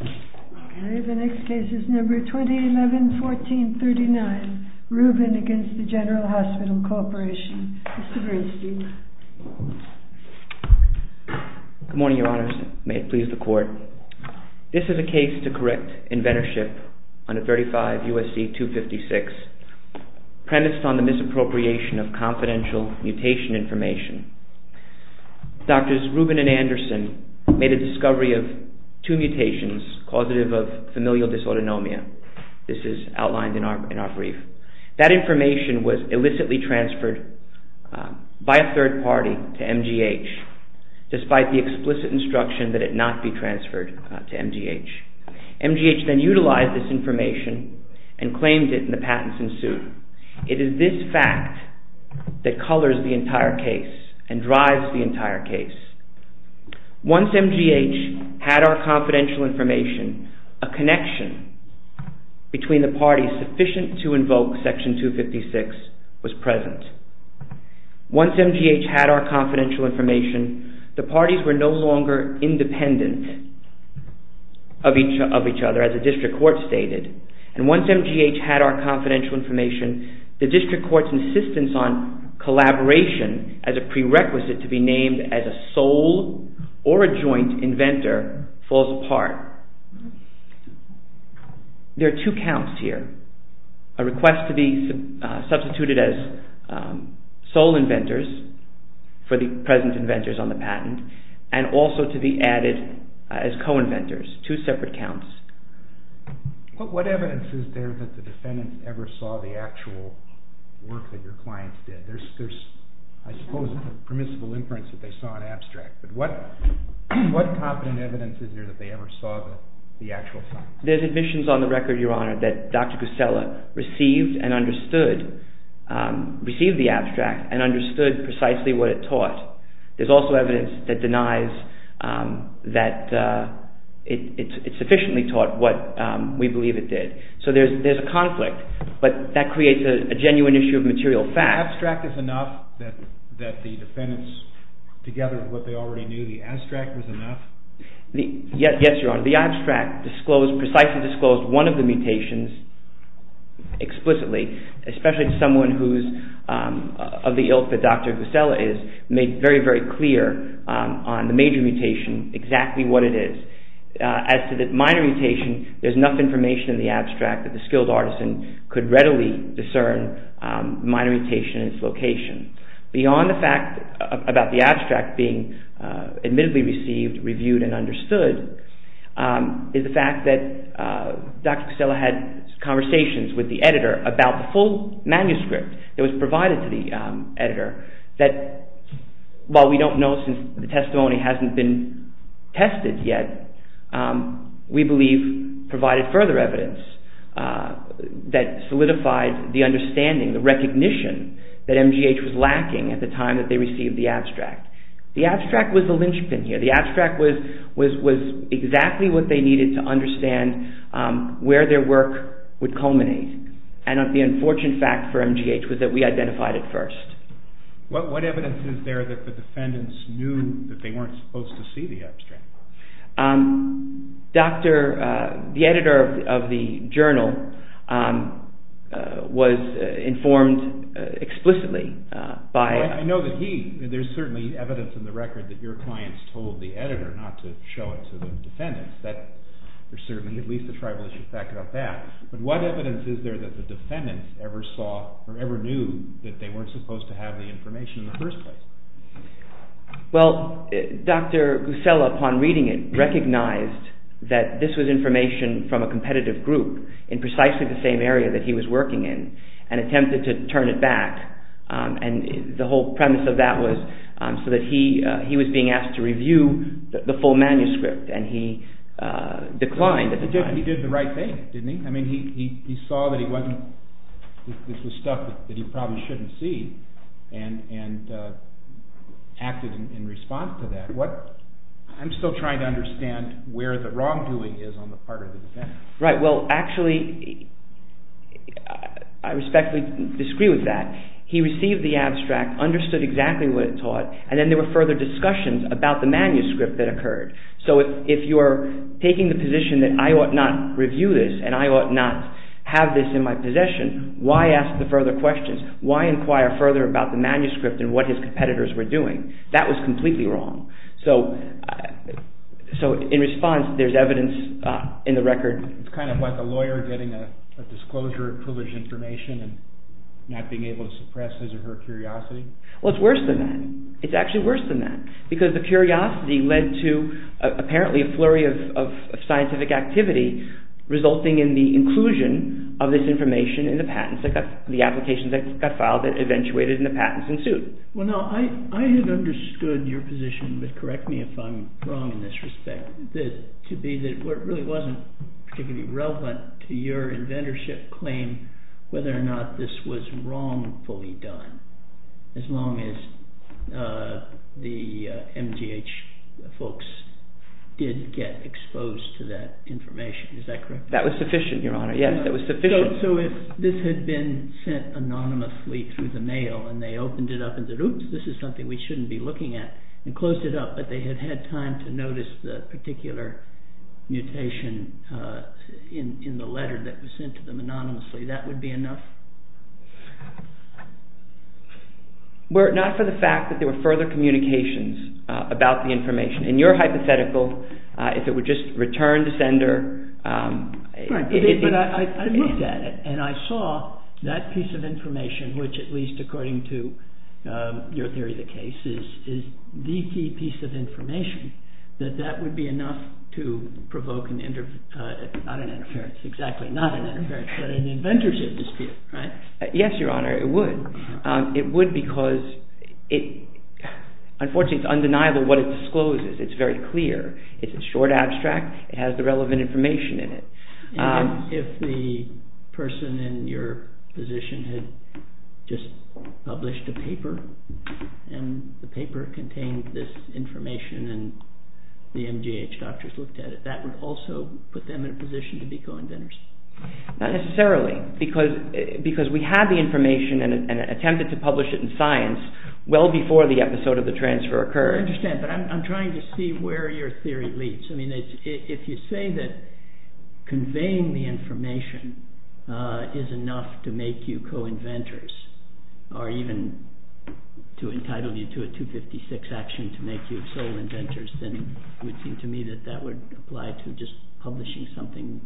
RUBIN v. GENERAL HOSPITAL CORP Good morning, Your Honors. May it please the Court. This is a case to correct inventorship under 35 U.S.C. 256, premised on the misappropriation of confidential mutation information. Drs. Rubin and Anderson made a discovery of two mutations causative of familial dysautonomia. This is outlined in our brief. That information was illicitly transferred by a third party to MGH, despite the explicit instruction that it not be transferred to MGH. MGH then utilized this information and claimed it, and the patents ensued. It is this fact that colors the entire case and drives the entire case. Once MGH had our confidential information, a connection between the parties sufficient to invoke Section 256 was present. Once MGH had our confidential information, the parties were no longer independent of each other, as the District Court stated. And once MGH had our confidential information, the District Court's insistence on collaboration as a prerequisite to be named as a sole or a joint inventor falls apart. There are two counts here, a request to be substituted as sole inventors for the present inventors on the patent, and also to be added as co-inventors, two separate counts. What evidence is there that the defendants ever saw the actual work that your clients did? I suppose it's a permissible inference that they saw an abstract, but what competent evidence is there that they ever saw the actual science? There's admissions on the record, Your Honor, that Dr. Grisella received and understood the abstract and understood precisely what it taught. There's also evidence that denies that it sufficiently taught what we believe it did. So there's a conflict, but that creates a genuine issue of material fact. The abstract is enough that the defendants, together with what they already knew, the abstract was enough? Yes, Your Honor, the abstract precisely disclosed one of the mutations explicitly, especially to someone who's of the ilk that Dr. Grisella is, made very, very clear on the major mutation exactly what it is. As to the minor mutation, there's enough information in the abstract that the skilled artisan could readily discern the minor mutation and its location. Beyond the fact about the abstract being admittedly received, reviewed, and understood is the fact that Dr. Grisella had conversations with the editor about the full manuscript that was provided to the editor that, while we don't know since the testimony hasn't been tested yet, we believe provided further evidence that solidified the understanding, the recognition that MGH was lacking at the time that they received the abstract. The abstract was the linchpin here. The abstract was exactly what they needed to understand where their work would culminate, and the unfortunate fact for MGH was that we identified it first. What evidence is there that the defendants knew that they weren't supposed to see the abstract? The editor of the journal was informed explicitly by… I know that he, there's certainly evidence in the record that your clients told the editor not to show it to the defendants. There's certainly at least a tribalistic fact about that, but what evidence is there that the defendants ever saw or ever knew that they weren't supposed to have the information in the first place? Well, Dr. Grisella, upon reading it, recognized that this was information from a competitive group in precisely the same area that he was working in and attempted to turn it back. The whole premise of that was so that he was being asked to review the full manuscript, and he declined at the time. He did the right thing, didn't he? I mean, he saw that this was stuff that he probably shouldn't see and acted in response to that. I'm still trying to understand where the wrongdoing is on the part of the defendants. Right. Well, actually, I respectfully disagree with that. He received the abstract, understood exactly what it taught, and then there were further discussions about the manuscript that occurred. So if you are taking the position that I ought not review this and I ought not have this in my possession, why ask the further questions? Why inquire further about the manuscript and what his competitors were doing? That was completely wrong. So in response, there's evidence in the record. It's kind of like a lawyer getting a disclosure of foolish information and not being able to suppress his or her curiosity. Well, it's worse than that. It's actually worse than that because the curiosity led to apparently a flurry of scientific activity resulting in the inclusion of this information in the patents. The applications that got filed that eventuated in the patents ensued. Well, now, I had understood your position, but correct me if I'm wrong in this respect, to be that what really wasn't particularly relevant to your inventorship claim, whether or not this was wrongfully done, as long as the MGH folks did get exposed to that information. Is that correct? That was sufficient, Your Honor. Yes, that was sufficient. So if this had been sent anonymously through the mail and they opened it up and said, oops, this is something we shouldn't be looking at and closed it up, but they had had time to notice the particular mutation in the letter that was sent to them anonymously, that would be enough? Not for the fact that there were further communications about the information. In your hypothetical, if it would just return to sender. But I looked at it and I saw that piece of information, which at least according to your theory of the case is the key piece of information, that that would be enough to provoke not an interference, exactly not an interference, but an inventorship dispute. Yes, Your Honor, it would. It would because unfortunately it's undeniable what it discloses. It's very clear. It's a short abstract. It has the relevant information in it. If the person in your position had just published a paper and the paper contained this information and the MGH doctors looked at it, that would also put them in a position to be co-inventors? Not necessarily, because we had the information and attempted to publish it in science well before the episode of the transfer occurred. I understand, but I'm trying to see where your theory leads. If you say that conveying the information is enough to make you co-inventors, or even to entitle you to a 256 action to make you sole inventors, then it would seem to me that that would apply to just publishing something,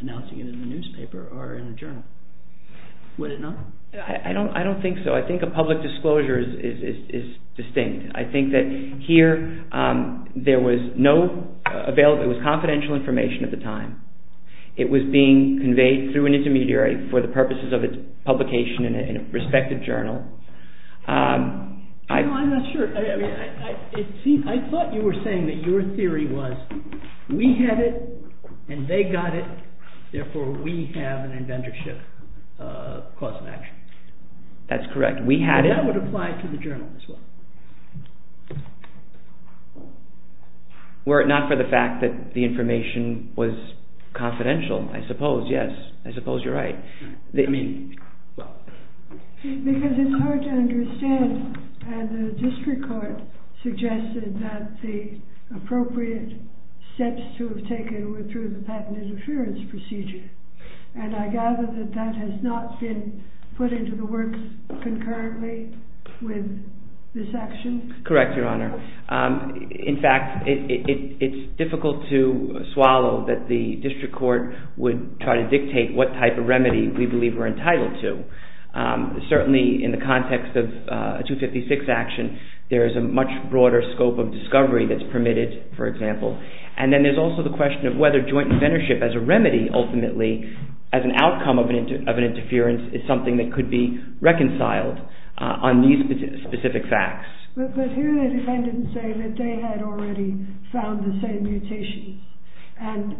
announcing it in the newspaper or in a journal. Would it not? I don't think so. I think a public disclosure is distinct. I think that here there was no available, it was confidential information at the time. It was being conveyed through an intermediary for the purposes of its publication in a respective journal. I'm not sure. I thought you were saying that your theory was we had it and they got it, therefore we have an inventorship clause in action. That's correct. We had it. That would apply to the journal as well. Were it not for the fact that the information was confidential, I suppose, yes, I suppose you're right. Because it's hard to understand. The district court suggested that the appropriate steps to have taken were through the patent interference procedure, and I gather that that has not been put into the works concurrently with this action? Correct, Your Honor. In fact, it's difficult to swallow that the district court would try to dictate what type of remedy we believe we're entitled to. Certainly in the context of a 256 action, there is a much broader scope of discovery that's permitted, for example. And then there's also the question of whether joint inventorship as a remedy ultimately, as an outcome of an interference, is something that could be reconciled on these specific facts. But here the defendants say that they had already found the same mutations, and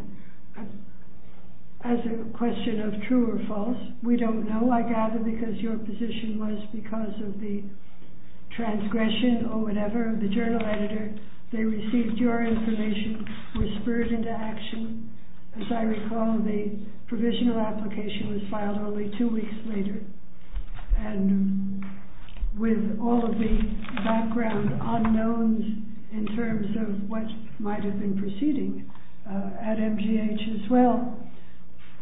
as a question of true or false, we don't know, I gather, because your position was because of the transgression or whatever of the journal editor, they received your information, were spurred into action. As I recall, the provisional application was filed only two weeks later, and with all of the background unknowns in terms of what might have been proceeding at MGH as well,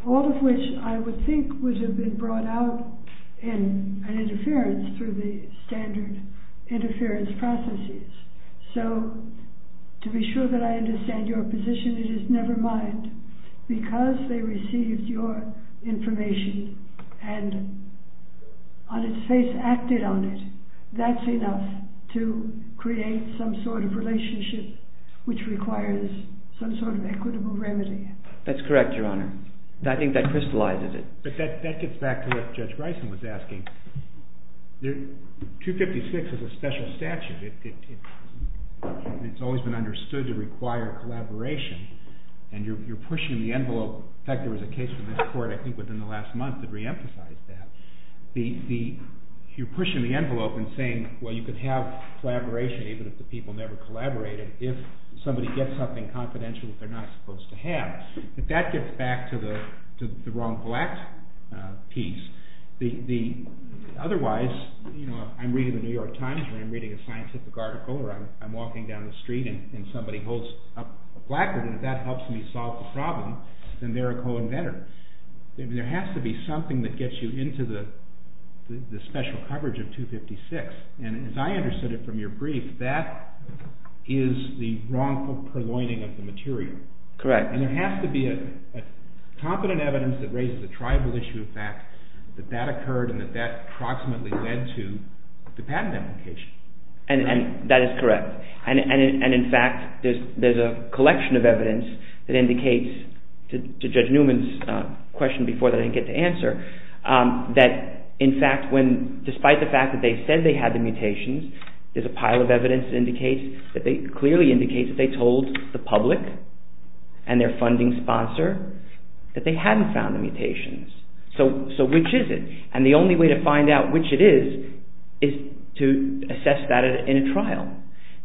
all of which I would think would have been brought out in an interference through the standard interference processes. So to be sure that I understand your position, it is never mind, because they received your information and on its face acted on it, that's enough to create some sort of relationship which requires some sort of equitable remedy. That's correct, Your Honor. I think that crystallizes it. But that gets back to what Judge Bryson was asking. 256 is a special statute. It's always been understood to require collaboration, and you're pushing the envelope. In fact, there was a case in this court I think within the last month that re-emphasized that. You're pushing the envelope and saying, well, you could have collaboration even if the people never collaborated, if somebody gets something confidential that they're not supposed to have. But that gets back to the wrong black piece. Otherwise, I'm reading the New York Times or I'm reading a scientific article or I'm walking down the street and somebody holds up a placard, and if that helps me solve the problem, then they're a co-inventor. There has to be something that gets you into the special coverage of 256. And as I understood it from your brief, that is the wrongful purloining of the material. Correct. And there has to be a competent evidence that raises a tribal issue of fact that that occurred and that that approximately led to the patent application. And that is correct. And in fact, there's a collection of evidence that indicates, to Judge Newman's question before that I didn't get to answer, that in fact, despite the fact that they said they had the mutations, there's a pile of evidence that clearly indicates that they told the public and their funding sponsor that they hadn't found the mutations. So which is it? And the only way to find out which it is is to assess that in a trial,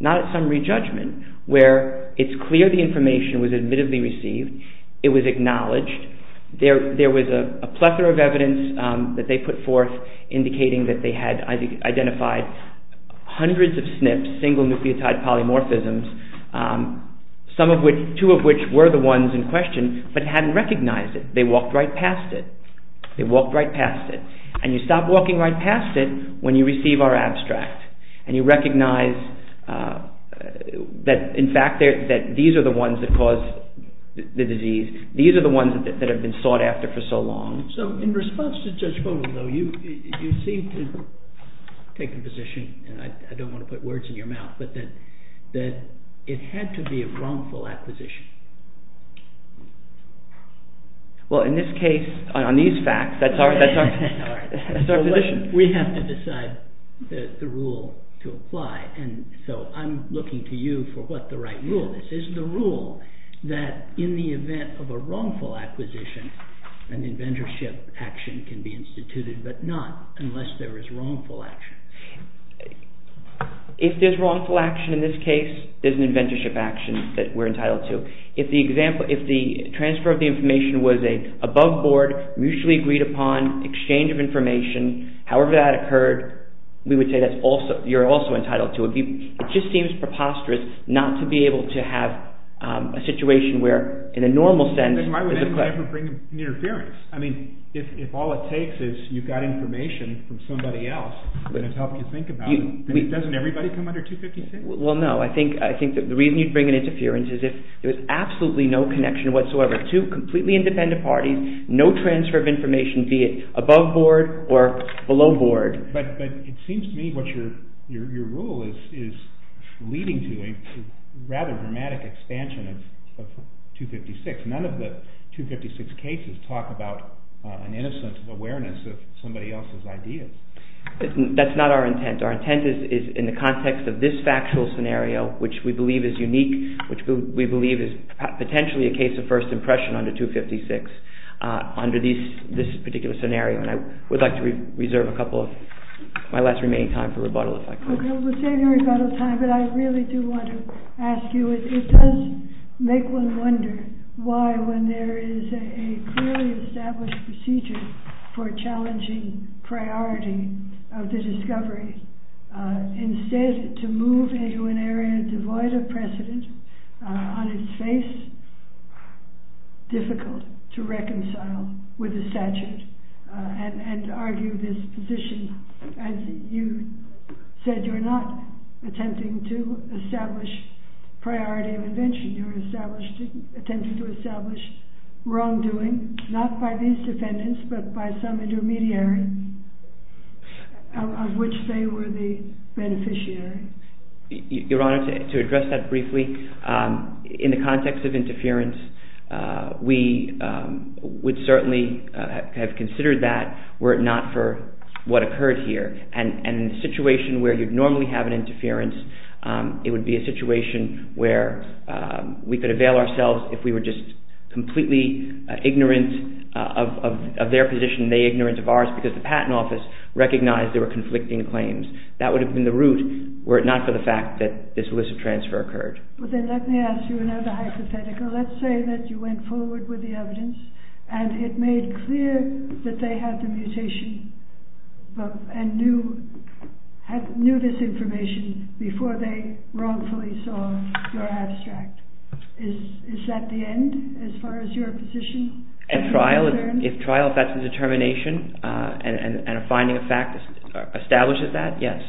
not at summary judgment, where it's clear the information was admittedly received, it was acknowledged, there was a plethora of evidence that they put forth indicating that they had identified hundreds of SNPs, single nucleotide polymorphisms, two of which were the ones in question, but hadn't recognized it. They walked right past it. They walked right past it. And you stop walking right past it when you receive our abstract. And you recognize that, in fact, these are the ones that caused the disease. These are the ones that have been sought after for so long. So in response to Judge Fogelman, though, you seem to have taken a position, and I don't want to put words in your mouth, but that it had to be a wrongful acquisition. Well, in this case, on these facts, that's our position. We have to decide the rule to apply, and so I'm looking to you for what the right rule is. Is the rule that in the event of a wrongful acquisition, an inventorship action can be instituted, but not unless there is wrongful action? If there's wrongful action in this case, there's an inventorship action that we're entitled to. If the transfer of the information was above board, mutually agreed upon, exchange of information, however that occurred, we would say you're also entitled to it. It just seems preposterous not to be able to have a situation where, in a normal sense— I mean, if all it takes is you've got information from somebody else that has helped you think about it, doesn't everybody come under 256? Well, no. I think the reason you'd bring an interference is if there was absolutely no connection whatsoever to completely independent parties, no transfer of information, be it above board or below board. But it seems to me what your rule is leading to is a rather dramatic expansion of 256. None of the 256 cases talk about an innocence of awareness of somebody else's ideas. That's not our intent. Our intent is in the context of this factual scenario, which we believe is unique, which we believe is potentially a case of first impression under 256, under this particular scenario. And I would like to reserve a couple of—my last remaining time for rebuttal, if I could. Okay, we'll save your rebuttal time, but I really do want to ask you, it does make one wonder why, when there is a clearly established procedure for a challenging priority of the discovery, instead to move into an area devoid of precedent, on its face, difficult to reconcile with the statute and argue this position as you said you're not attempting to establish priority of invention. You're attempting to establish wrongdoing, not by these defendants, but by some intermediary, of which they were the beneficiary. Your Honor, to address that briefly, in the context of interference, we would certainly have considered that were it not for what occurred here. And in a situation where you'd normally have an interference, it would be a situation where we could avail ourselves if we were just completely ignorant of their position, they ignorant of ours, because the Patent Office recognized there were conflicting claims. That would have been the route were it not for the fact that this illicit transfer occurred. Then let me ask you another hypothetical. Let's say that you went forward with the evidence and it made clear that they had the mutation and knew this information before they wrongfully saw your abstract. Is that the end, as far as your position? At trial, if that's the determination and a finding of fact establishes that, yes.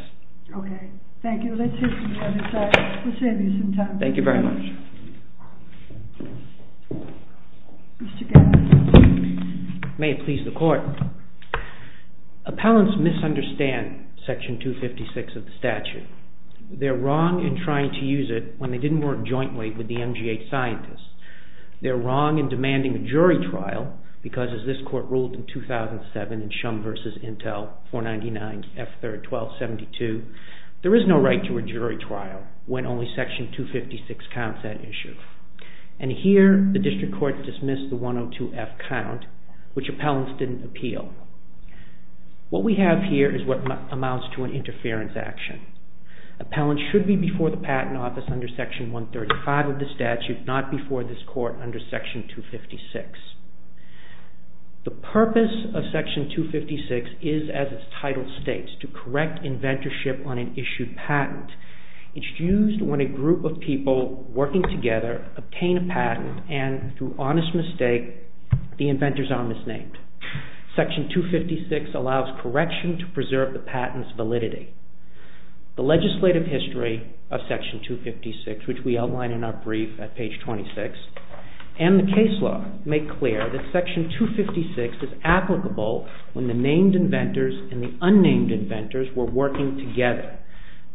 Okay, thank you. Let's save you some time. Thank you very much. May it please the Court. Appellants misunderstand Section 256 of the statute. They're wrong in trying to use it when they didn't work jointly with the MGH scientists. They're wrong in demanding a jury trial, because as this Court ruled in 2007, in Shum v. Intel, 499F3R1272, there is no right to a jury trial when only Section 256 counts that issue. And here, the District Court dismissed the 102F count, which appellants didn't appeal. What we have here is what amounts to an interference action. Appellants should be before the Patent Office under Section 135 of the statute, not before this Court under Section 256. The purpose of Section 256 is, as its title states, to correct inventorship on an issued patent. It's used when a group of people working together obtain a patent and, through honest mistake, the inventors are misnamed. Section 256 allows correction to preserve the patent's validity. The legislative history of Section 256, which we outline in our brief at page 26, and the case law make clear that Section 256 is applicable when the named inventors and the unnamed inventors were working together.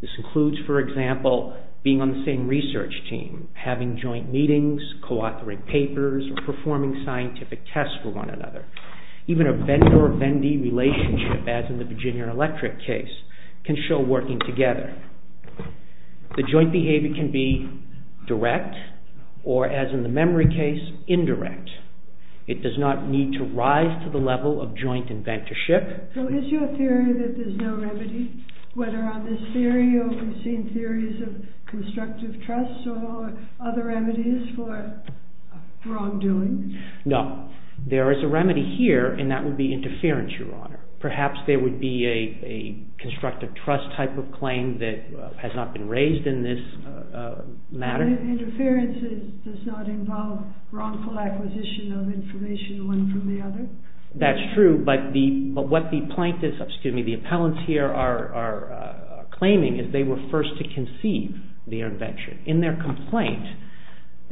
This includes, for example, being on the same research team, having joint meetings, co-authoring papers, or performing scientific tests for one another. Even a vendor-vendee relationship, as in the Virginia Electric case, can show working together. The joint behavior can be direct or, as in the memory case, indirect. It does not need to rise to the level of joint inventorship. So is your theory that there's no remedy? Whether on this theory, or we've seen theories of constructive trust, or other remedies for wrongdoing? No. There is a remedy here, and that would be interference, Your Honor. Perhaps there would be a constructive trust type of claim that has not been raised in this matter. Interference does not involve wrongful acquisition of information one from the other? That's true, but what the plaintiffs, excuse me, the appellants here are claiming is they were first to conceive the invention. In their complaint,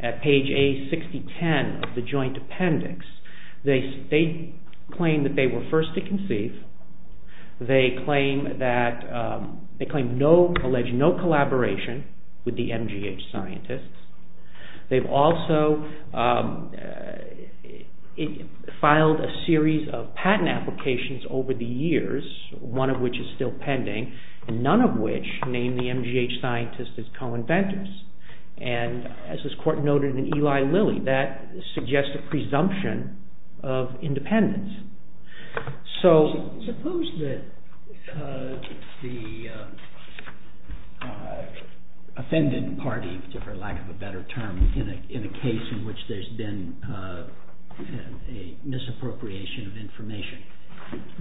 at page A6010 of the joint appendix, they claim that they were first to conceive. They claim no alleged collaboration with the MGH scientists. They've also filed a series of patent applications over the years, one of which is still pending, and none of which name the MGH scientists as co-inventors. And as this court noted in Eli Lilly, that suggests a presumption of independence. So suppose that the offended party, for lack of a better term, in a case in which there's been a misappropriation of information,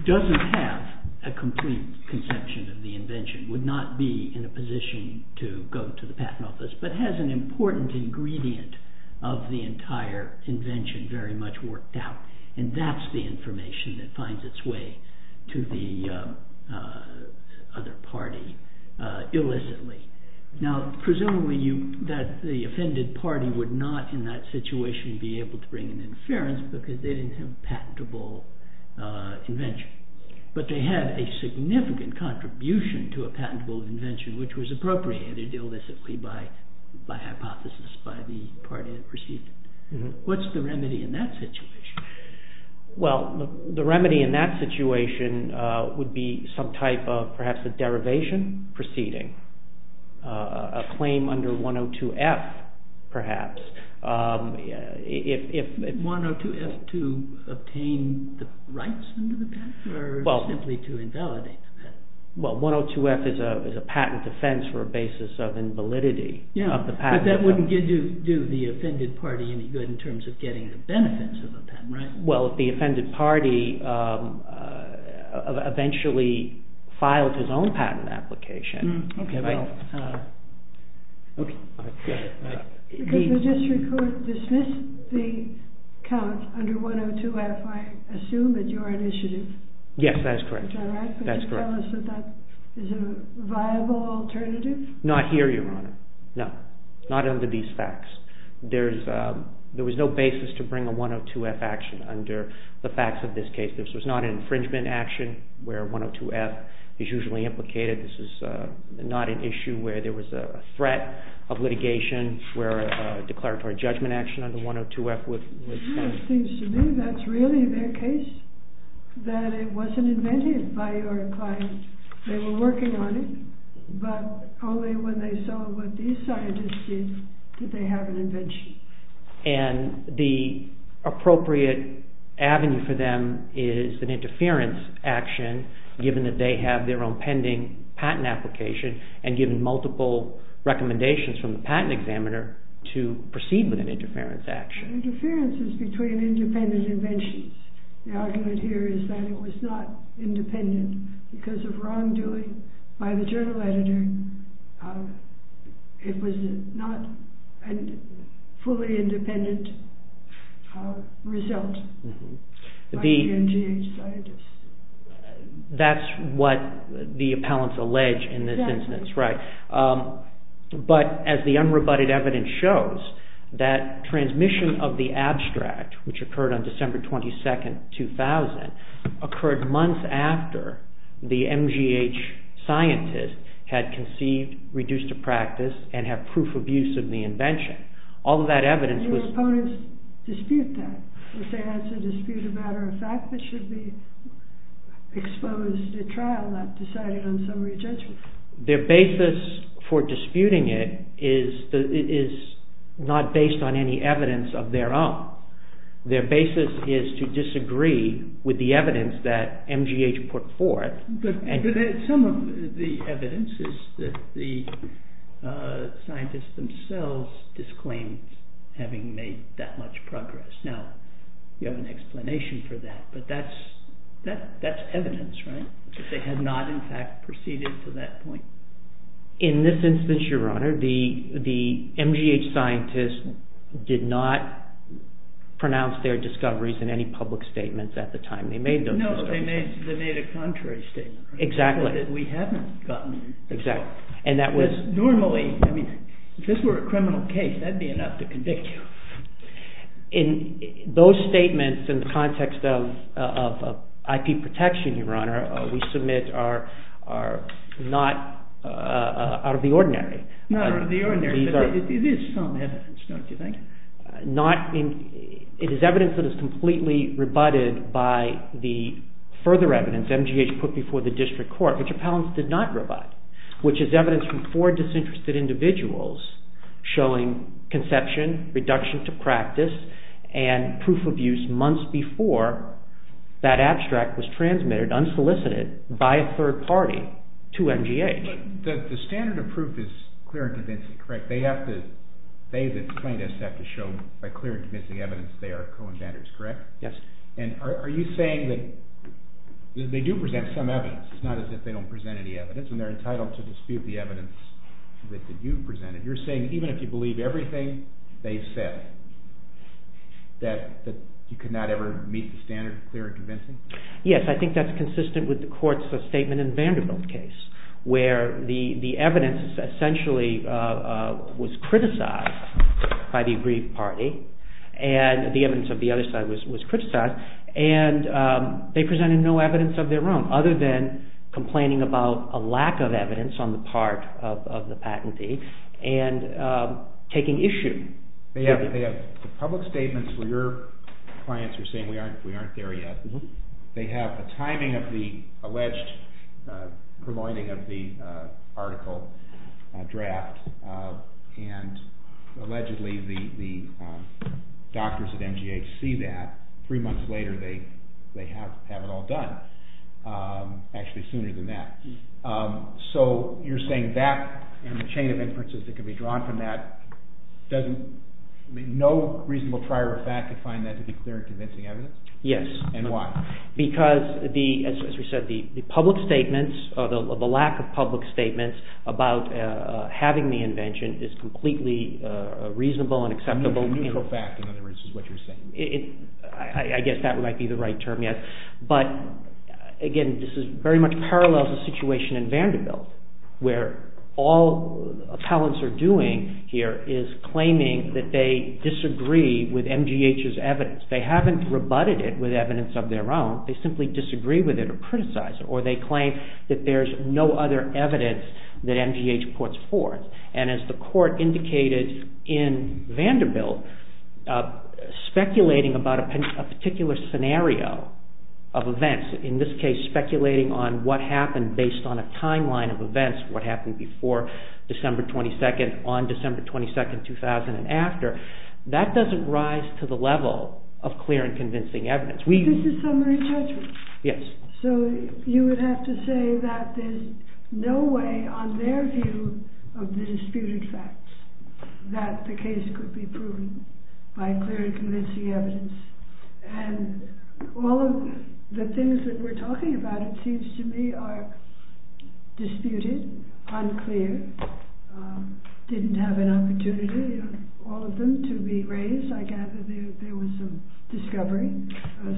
doesn't have a complete conception of the invention, would not be in a position to go to the patent office, but has an important ingredient of the entire invention very much worked out, and that's the information that finds its way to the other party illicitly. Now, presumably the offended party would not in that situation be able to bring an interference because they didn't have a patentable invention. But they had a significant contribution to a patentable invention which was appropriated illicitly by hypothesis by the party that perceived it. What's the remedy in that situation? Well, the remedy in that situation would be some type of, perhaps, a derivation proceeding. A claim under 102F, perhaps. 102F to obtain the rights under the patent, or simply to invalidate the patent? Well, 102F is a patent defense for a basis of invalidity of the patent. But that wouldn't do the offended party any good in terms of getting the benefits of a patent, right? Well, if the offended party eventually filed his own patent application... Okay, well... Could the district court dismiss the count under 102F, I assume, at your initiative? Yes, that is correct. Is that right? Could you tell us if that is a viable alternative? Not here, Your Honor. No, not under these facts. There was no basis to bring a 102F action under the facts of this case. This was not an infringement action where 102F is usually implicated. This is not an issue where there was a threat of litigation where a declaratory judgment action under 102F was found. It seems to me that's really their case, that it wasn't invented by your client. They were working on it, but only when they saw what these scientists did did they have an invention. And the appropriate avenue for them is an interference action given that they have their own pending patent application and given multiple recommendations from the patent examiner to proceed with an interference action. Interference is between independent inventions. The argument here is that it was not independent because of wrongdoing by the journal editor. It was not a fully independent result by the NGH scientists. That's what the appellants allege in this instance, right. But as the unrebutted evidence shows, that transmission of the abstract, which occurred on December 22, 2000, occurred months after the NGH scientists had conceived, reduced to practice, and had proof of use of the invention. All of that evidence was... Did your opponents dispute that? Did they have to dispute a matter of fact that should be exposed at trial and not decided on summary judgment? Their basis for disputing it is not based on any evidence of their own. Their basis is to disagree with the evidence that NGH put forth. But some of the evidence is that the scientists themselves disclaimed having made that much progress. Now, you have an explanation for that, but that's evidence, right? They had not, in fact, proceeded to that point. In this instance, Your Honor, the NGH scientists did not pronounce their discoveries in any public statements at the time they made those discoveries. No, they made a contrary statement. Exactly. We haven't gotten... Exactly. Normally, if this were a criminal case, that would be enough to convict you. In those statements, in the context of IP protection, Your Honor, we submit are not out of the ordinary. Not out of the ordinary, but it is some evidence, don't you think? It is evidence that is completely rebutted by the further evidence NGH put before the district court, which appellants did not rebut, which is evidence from four disinterested individuals showing conception, reduction to practice, and proof of use months before that abstract was transmitted, unsolicited, by a third party to NGH. But the standard of proof is clear and convincing, correct? They, the scientists, have to show by clear and convincing evidence they are co-inventors, correct? Yes. And are you saying that they do present some evidence? It's not as if they don't present any evidence, and they're entitled to dispute the evidence that you've presented. You're saying even if you believe everything they said, that you could not ever meet the standard of clear and convincing? Yes, I think that's consistent with the court's statement in the Vanderbilt case, where the evidence essentially was criticized by the agreed party, and the evidence of the other side was criticized, and they presented no evidence of their own, other than complaining about a lack of evidence on the part of the patentee, and taking issue. They have public statements where your clients are saying we aren't there yet. They have the timing of the alleged preloading of the article draft, and allegedly the doctors at NGH see that. Three months later, they have it all done. Actually, sooner than that. So you're saying that, and the chain of inferences that can be drawn from that, no reasonable prior of fact could find that to be clear and convincing evidence? Yes. And why? Because, as we said, the public statements, or the lack of public statements, about having the invention is completely reasonable and acceptable. Neutral fact, in other words, is what you're saying. I guess that might be the right term, yes. But, again, this very much parallels the situation in Vanderbilt, where all appellants are doing here is claiming that they disagree with NGH's evidence. They haven't rebutted it with evidence of their own. They simply disagree with it or criticize it, or they claim that there's no other evidence that NGH puts forth. And as the court indicated in Vanderbilt, speculating about a particular scenario of events, in this case speculating on what happened based on a timeline of events, what happened before December 22nd, on December 22nd, 2000, and after, that doesn't rise to the level of clear and convincing evidence. This is summary judgment. Yes. So you would have to say that there's no way, on their view of the disputed facts, that the case could be proven by clear and convincing evidence. And all of the things that we're talking about, it seems to me, are disputed, unclear, didn't have an opportunity, all of them, to be raised. I gather there was some discovery,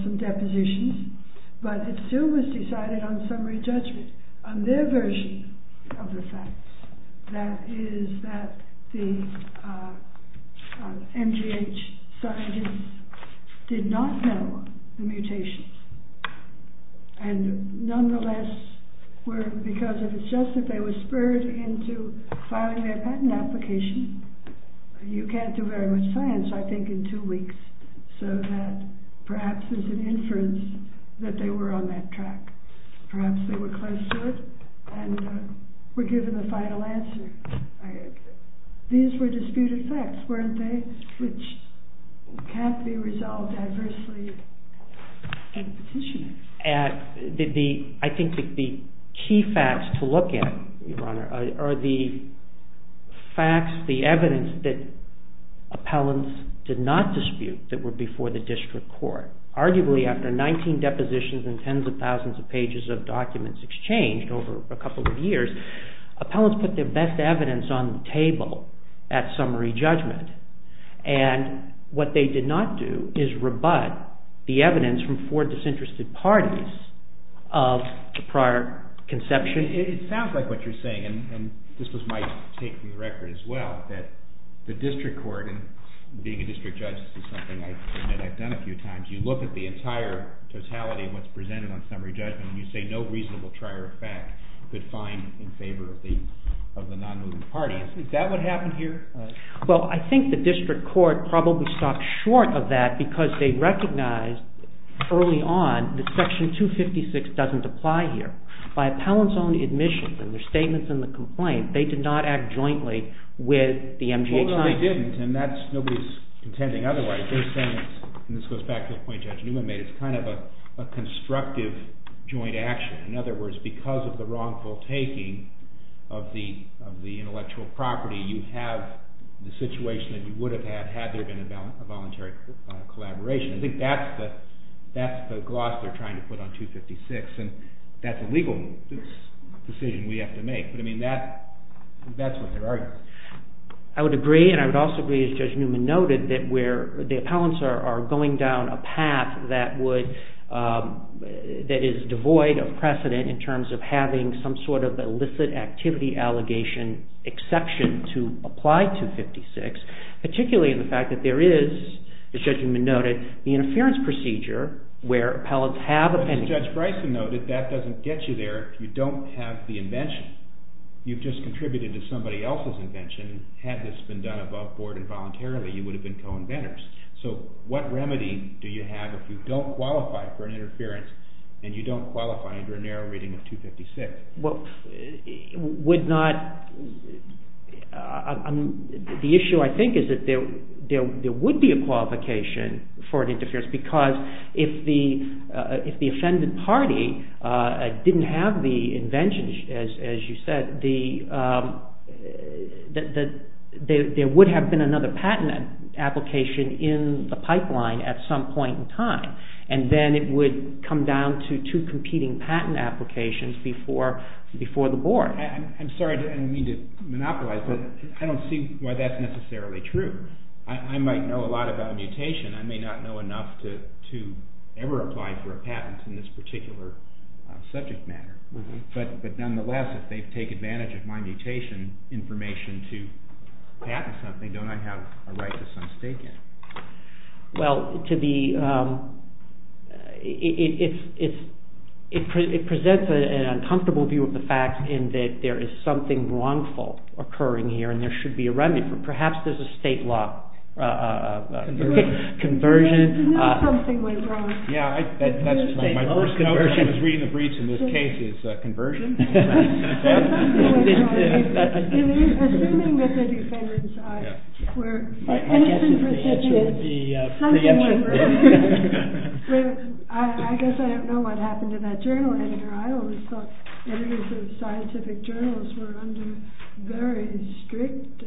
some depositions. But it still was decided on summary judgment. On their version of the facts, that is that the NGH scientists did not know the mutations. And nonetheless, because if it's just that they were spurred into filing their patent application, you can't do very much science, I think, in two weeks. So that perhaps there's an inference that they were on that track. Perhaps they were close to it and were given the final answer. These were disputed facts, weren't they? Which can't be resolved adversely in petitioning. I think the key facts to look at are the facts, the evidence, that appellants did not dispute that were before the district court. Arguably, after 19 depositions and tens of thousands of pages of documents exchanged over a couple of years, appellants put their best evidence on the table at summary judgment. And what they did not do is rebut the evidence from four disinterested parties of the prior conception. It sounds like what you're saying, and this was my take from the record as well, that the district court, and being a district judge, this is something I've done a few times, you look at the entire totality of what's presented on summary judgment and you say no reasonable trier of fact could find in favor of the non-moving parties. Is that what happened here? Well, I think the district court probably stopped short of that because they recognized early on that section 256 doesn't apply here. By appellants' own admission and their statements in the complaint, they did not act jointly with the MGHI. Well, no, they didn't, and nobody's contending otherwise. They're saying, and this goes back to the point Judge Newman made, it's kind of a constructive joint action. In other words, because of the wrongful taking of the intellectual property, you have the situation that you would have had had there been a voluntary collaboration. I think that's the gloss they're trying to put on 256, and that's a legal decision we have to make. But, I mean, that's what they're arguing. I would agree, and I would also agree, as Judge Newman noted, that where the appellants are going down a path that is devoid of precedent in terms of having some sort of illicit activity allegation exception to apply 256, particularly in the fact that there is, as Judge Newman noted, the interference procedure where appellants have appendices. As Judge Bryson noted, that doesn't get you there if you don't have the invention. You've just contributed to somebody else's invention. Had this been done above board involuntarily, you would have been co-inventors. So what remedy do you have if you don't qualify for an interference and you don't qualify under a narrow reading of 256? Well, would not—the issue, I think, is that there would be a qualification for an interference because if the offended party didn't have the invention, as you said, there would have been another patent application in the pipeline at some point in time, and then it would come down to two competing patent applications before the board. I'm sorry I didn't mean to monopolize, but I don't see why that's necessarily true. I might know a lot about mutation. I may not know enough to ever apply for a patent in this particular subject matter. But nonetheless, if they take advantage of my mutation information to patent something, don't I have a right to some stake in it? Well, to be—it presents an uncomfortable view of the fact in that there is something wrongful occurring here and there should be a remedy. Perhaps there's a state law—conversion. Isn't that something we're wrong— Yeah, that's my first note when I was reading the briefs in this case is conversion. There's something wrong here. Assuming that the defendants were innocent, prestigious, something went wrong. I guess I don't know what happened to that journal editor. I always thought editors of scientific journals were under very strict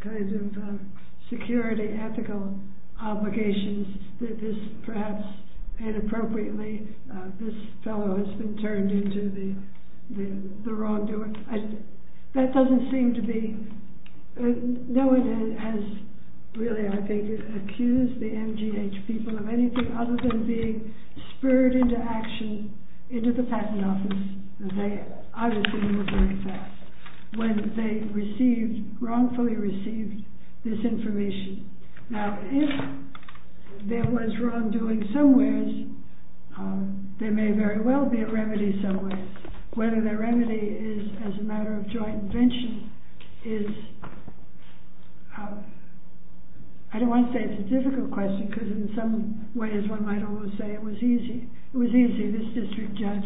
kind of security, ethical obligations that this perhaps inappropriately, this fellow has been turned into the wrongdoer. That doesn't seem to be—no one has really, I think, accused the MGH people of anything other than being spurred into action into the patent office. They obviously move very fast when they received, wrongfully received, this information. Now, if there was wrongdoing somewheres, there may very well be a remedy somewheres. Whether the remedy is as a matter of joint invention is—I don't want to say it's a difficult question because in some ways one might always say it was easy. It was easy. This district judge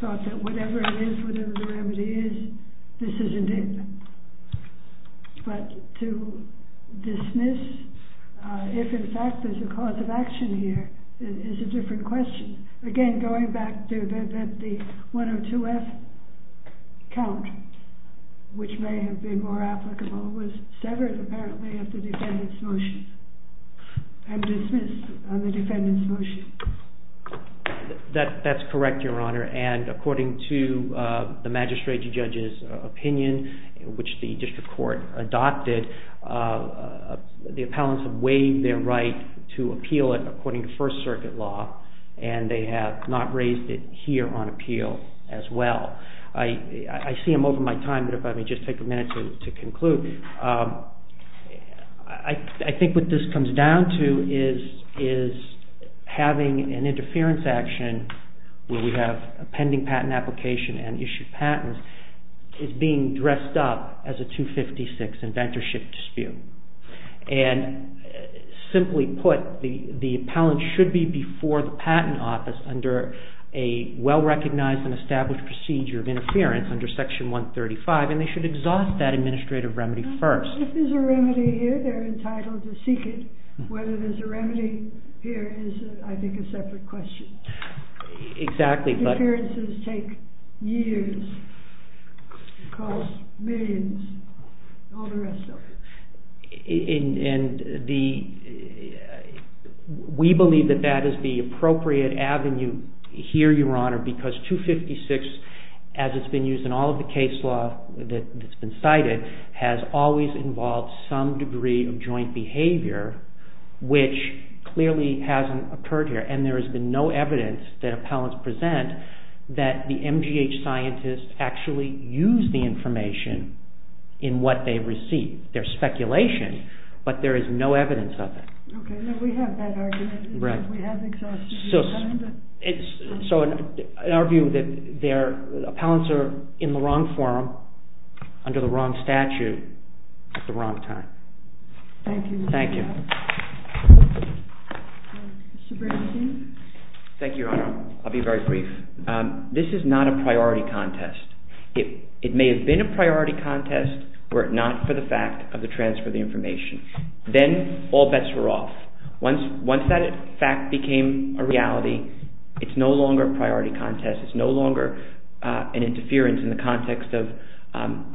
thought that whatever it is, whatever the remedy is, this isn't it. But to dismiss if in fact there's a cause of action here is a different question. Again, going back to the 102F count, which may have been more applicable, was severed apparently at the defendant's motion and dismissed on the defendant's motion. That's correct, Your Honor. And according to the magistrate judge's opinion, which the district court adopted, the appellants have waived their right to appeal it according to First Circuit law and they have not raised it here on appeal as well. I see I'm over my time, but if I may just take a minute to conclude. I think what this comes down to is having an interference action where we have a pending patent application and issue patents is being dressed up as a 256 inventorship dispute. And simply put, the appellant should be before the patent office under a well-recognized and established procedure of interference under Section 135 and they should exhaust that administrative remedy first. If there's a remedy here, they're entitled to seek it. Whether there's a remedy here is, I think, a separate question. Exactly, but... Interferences take years, cost millions, all the rest of it. Because 256, as it's been used in all of the case law that's been cited, has always involved some degree of joint behavior, which clearly hasn't occurred here. And there has been no evidence that appellants present that the MGH scientists actually use the information in what they receive. There's speculation, but there is no evidence of it. Okay, then we have that argument. So, in our view, appellants are in the wrong forum, under the wrong statute, at the wrong time. Thank you. Mr. Bernstein? Thank you, Your Honor. I'll be very brief. This is not a priority contest. It may have been a priority contest were it not for the fact of the transfer of the information. Then, all bets were off. Once that fact became a reality, it's no longer a priority contest. It's no longer an interference in the context of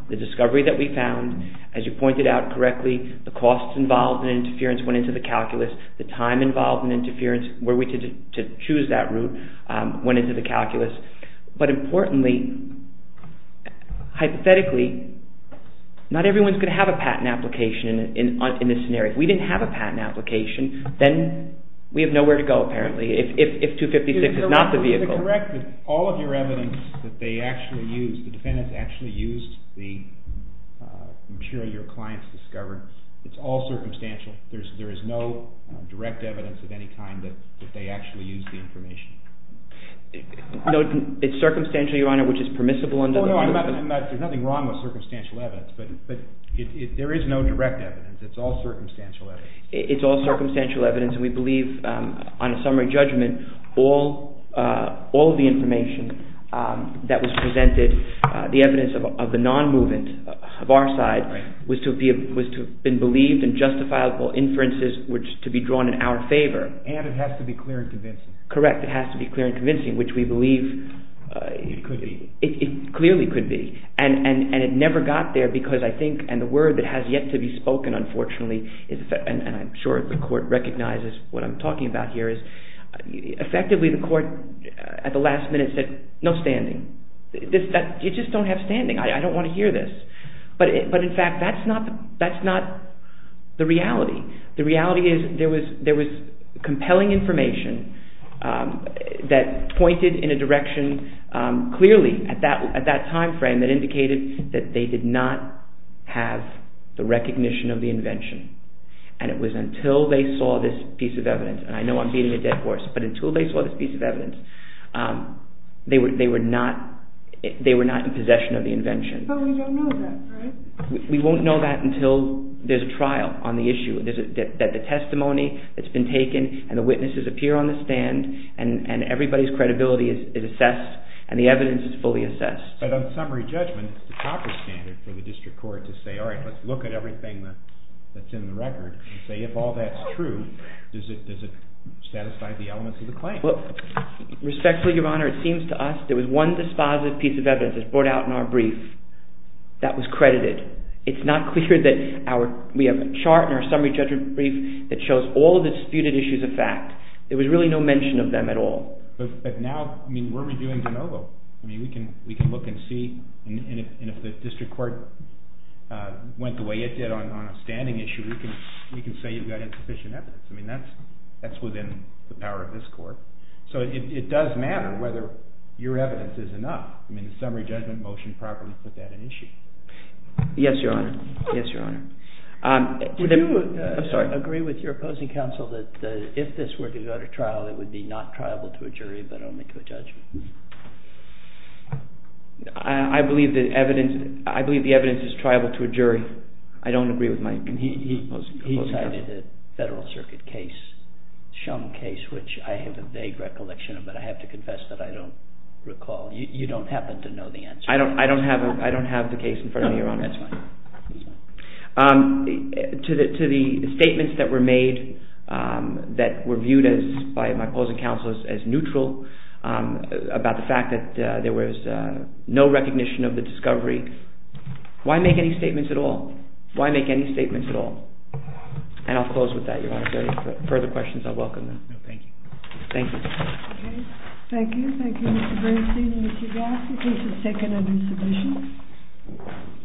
the discovery that we found. As you pointed out correctly, the costs involved in interference went into the calculus. The time involved in interference, were we to choose that route, went into the calculus. But importantly, hypothetically, not everyone's going to have a patent application in this scenario. If we didn't have a patent application, then we have nowhere to go, apparently, if 256 is not the vehicle. Is it correct that all of your evidence that they actually used, the defendants actually used, the material your clients discovered, it's all circumstantial? There is no direct evidence of any kind that they actually used the information? No, it's circumstantial, Your Honor, which is permissible under the law. There's nothing wrong with circumstantial evidence, but there is no direct evidence. It's all circumstantial evidence. It's all circumstantial evidence, and we believe, on a summary judgment, all of the information that was presented, the evidence of the non-movement of our side, was to have been believed and justifiable inferences were to be drawn in our favor. And it has to be clear and convincing. It clearly could be. And it never got there because I think, and the word that has yet to be spoken, unfortunately, and I'm sure the court recognizes what I'm talking about here, is effectively the court at the last minute said, no standing. You just don't have standing. I don't want to hear this. But in fact, that's not the reality. The reality is there was compelling information that pointed in a direction clearly at that time frame that indicated that they did not have the recognition of the invention. And it was until they saw this piece of evidence, and I know I'm beating a dead horse, but until they saw this piece of evidence, they were not in possession of the invention. But we don't know that, right? We won't know that until there's a trial on the issue, that the testimony that's been taken and the witnesses appear on the stand and everybody's credibility is assessed and the evidence is fully assessed. But on summary judgment, it's the proper standard for the district court to say, all right, let's look at everything that's in the record and say if all that's true, does it satisfy the elements of the claim? Respectfully, Your Honor, it seems to us there was one dispositive piece of evidence that was brought out in our brief that was credited. It's not clear that we have a chart in our summary judgment brief that shows all the disputed issues of fact. There was really no mention of them at all. But now, I mean, what are we doing de novo? I mean, we can look and see, and if the district court went the way it did on a standing issue, we can say you've got insufficient evidence. I mean, that's within the power of this court. So it does matter whether your evidence is enough. I mean, the summary judgment motion properly put that in issue. Yes, Your Honor. Yes, Your Honor. Do you agree with your opposing counsel that if this were to go to trial, it would be not triable to a jury but only to a judge? I believe the evidence is triable to a jury. I don't agree with my opposing counsel. He cited a Federal Circuit case, Shum case, which I have a vague recollection of, but I have to confess that I don't recall. You don't happen to know the answer. I don't have the case in front of me, Your Honor. That's fine. To the statements that were made that were viewed by my opposing counsel as neutral about the fact that there was no recognition of the discovery, why make any statements at all? Why make any statements at all? And I'll close with that, Your Honor. If there are any further questions, I'll welcome them. Thank you. Thank you. Okay. Thank you. Thank you, Mr. Bernstein and Mr. Gaffney. This is the second of your submissions.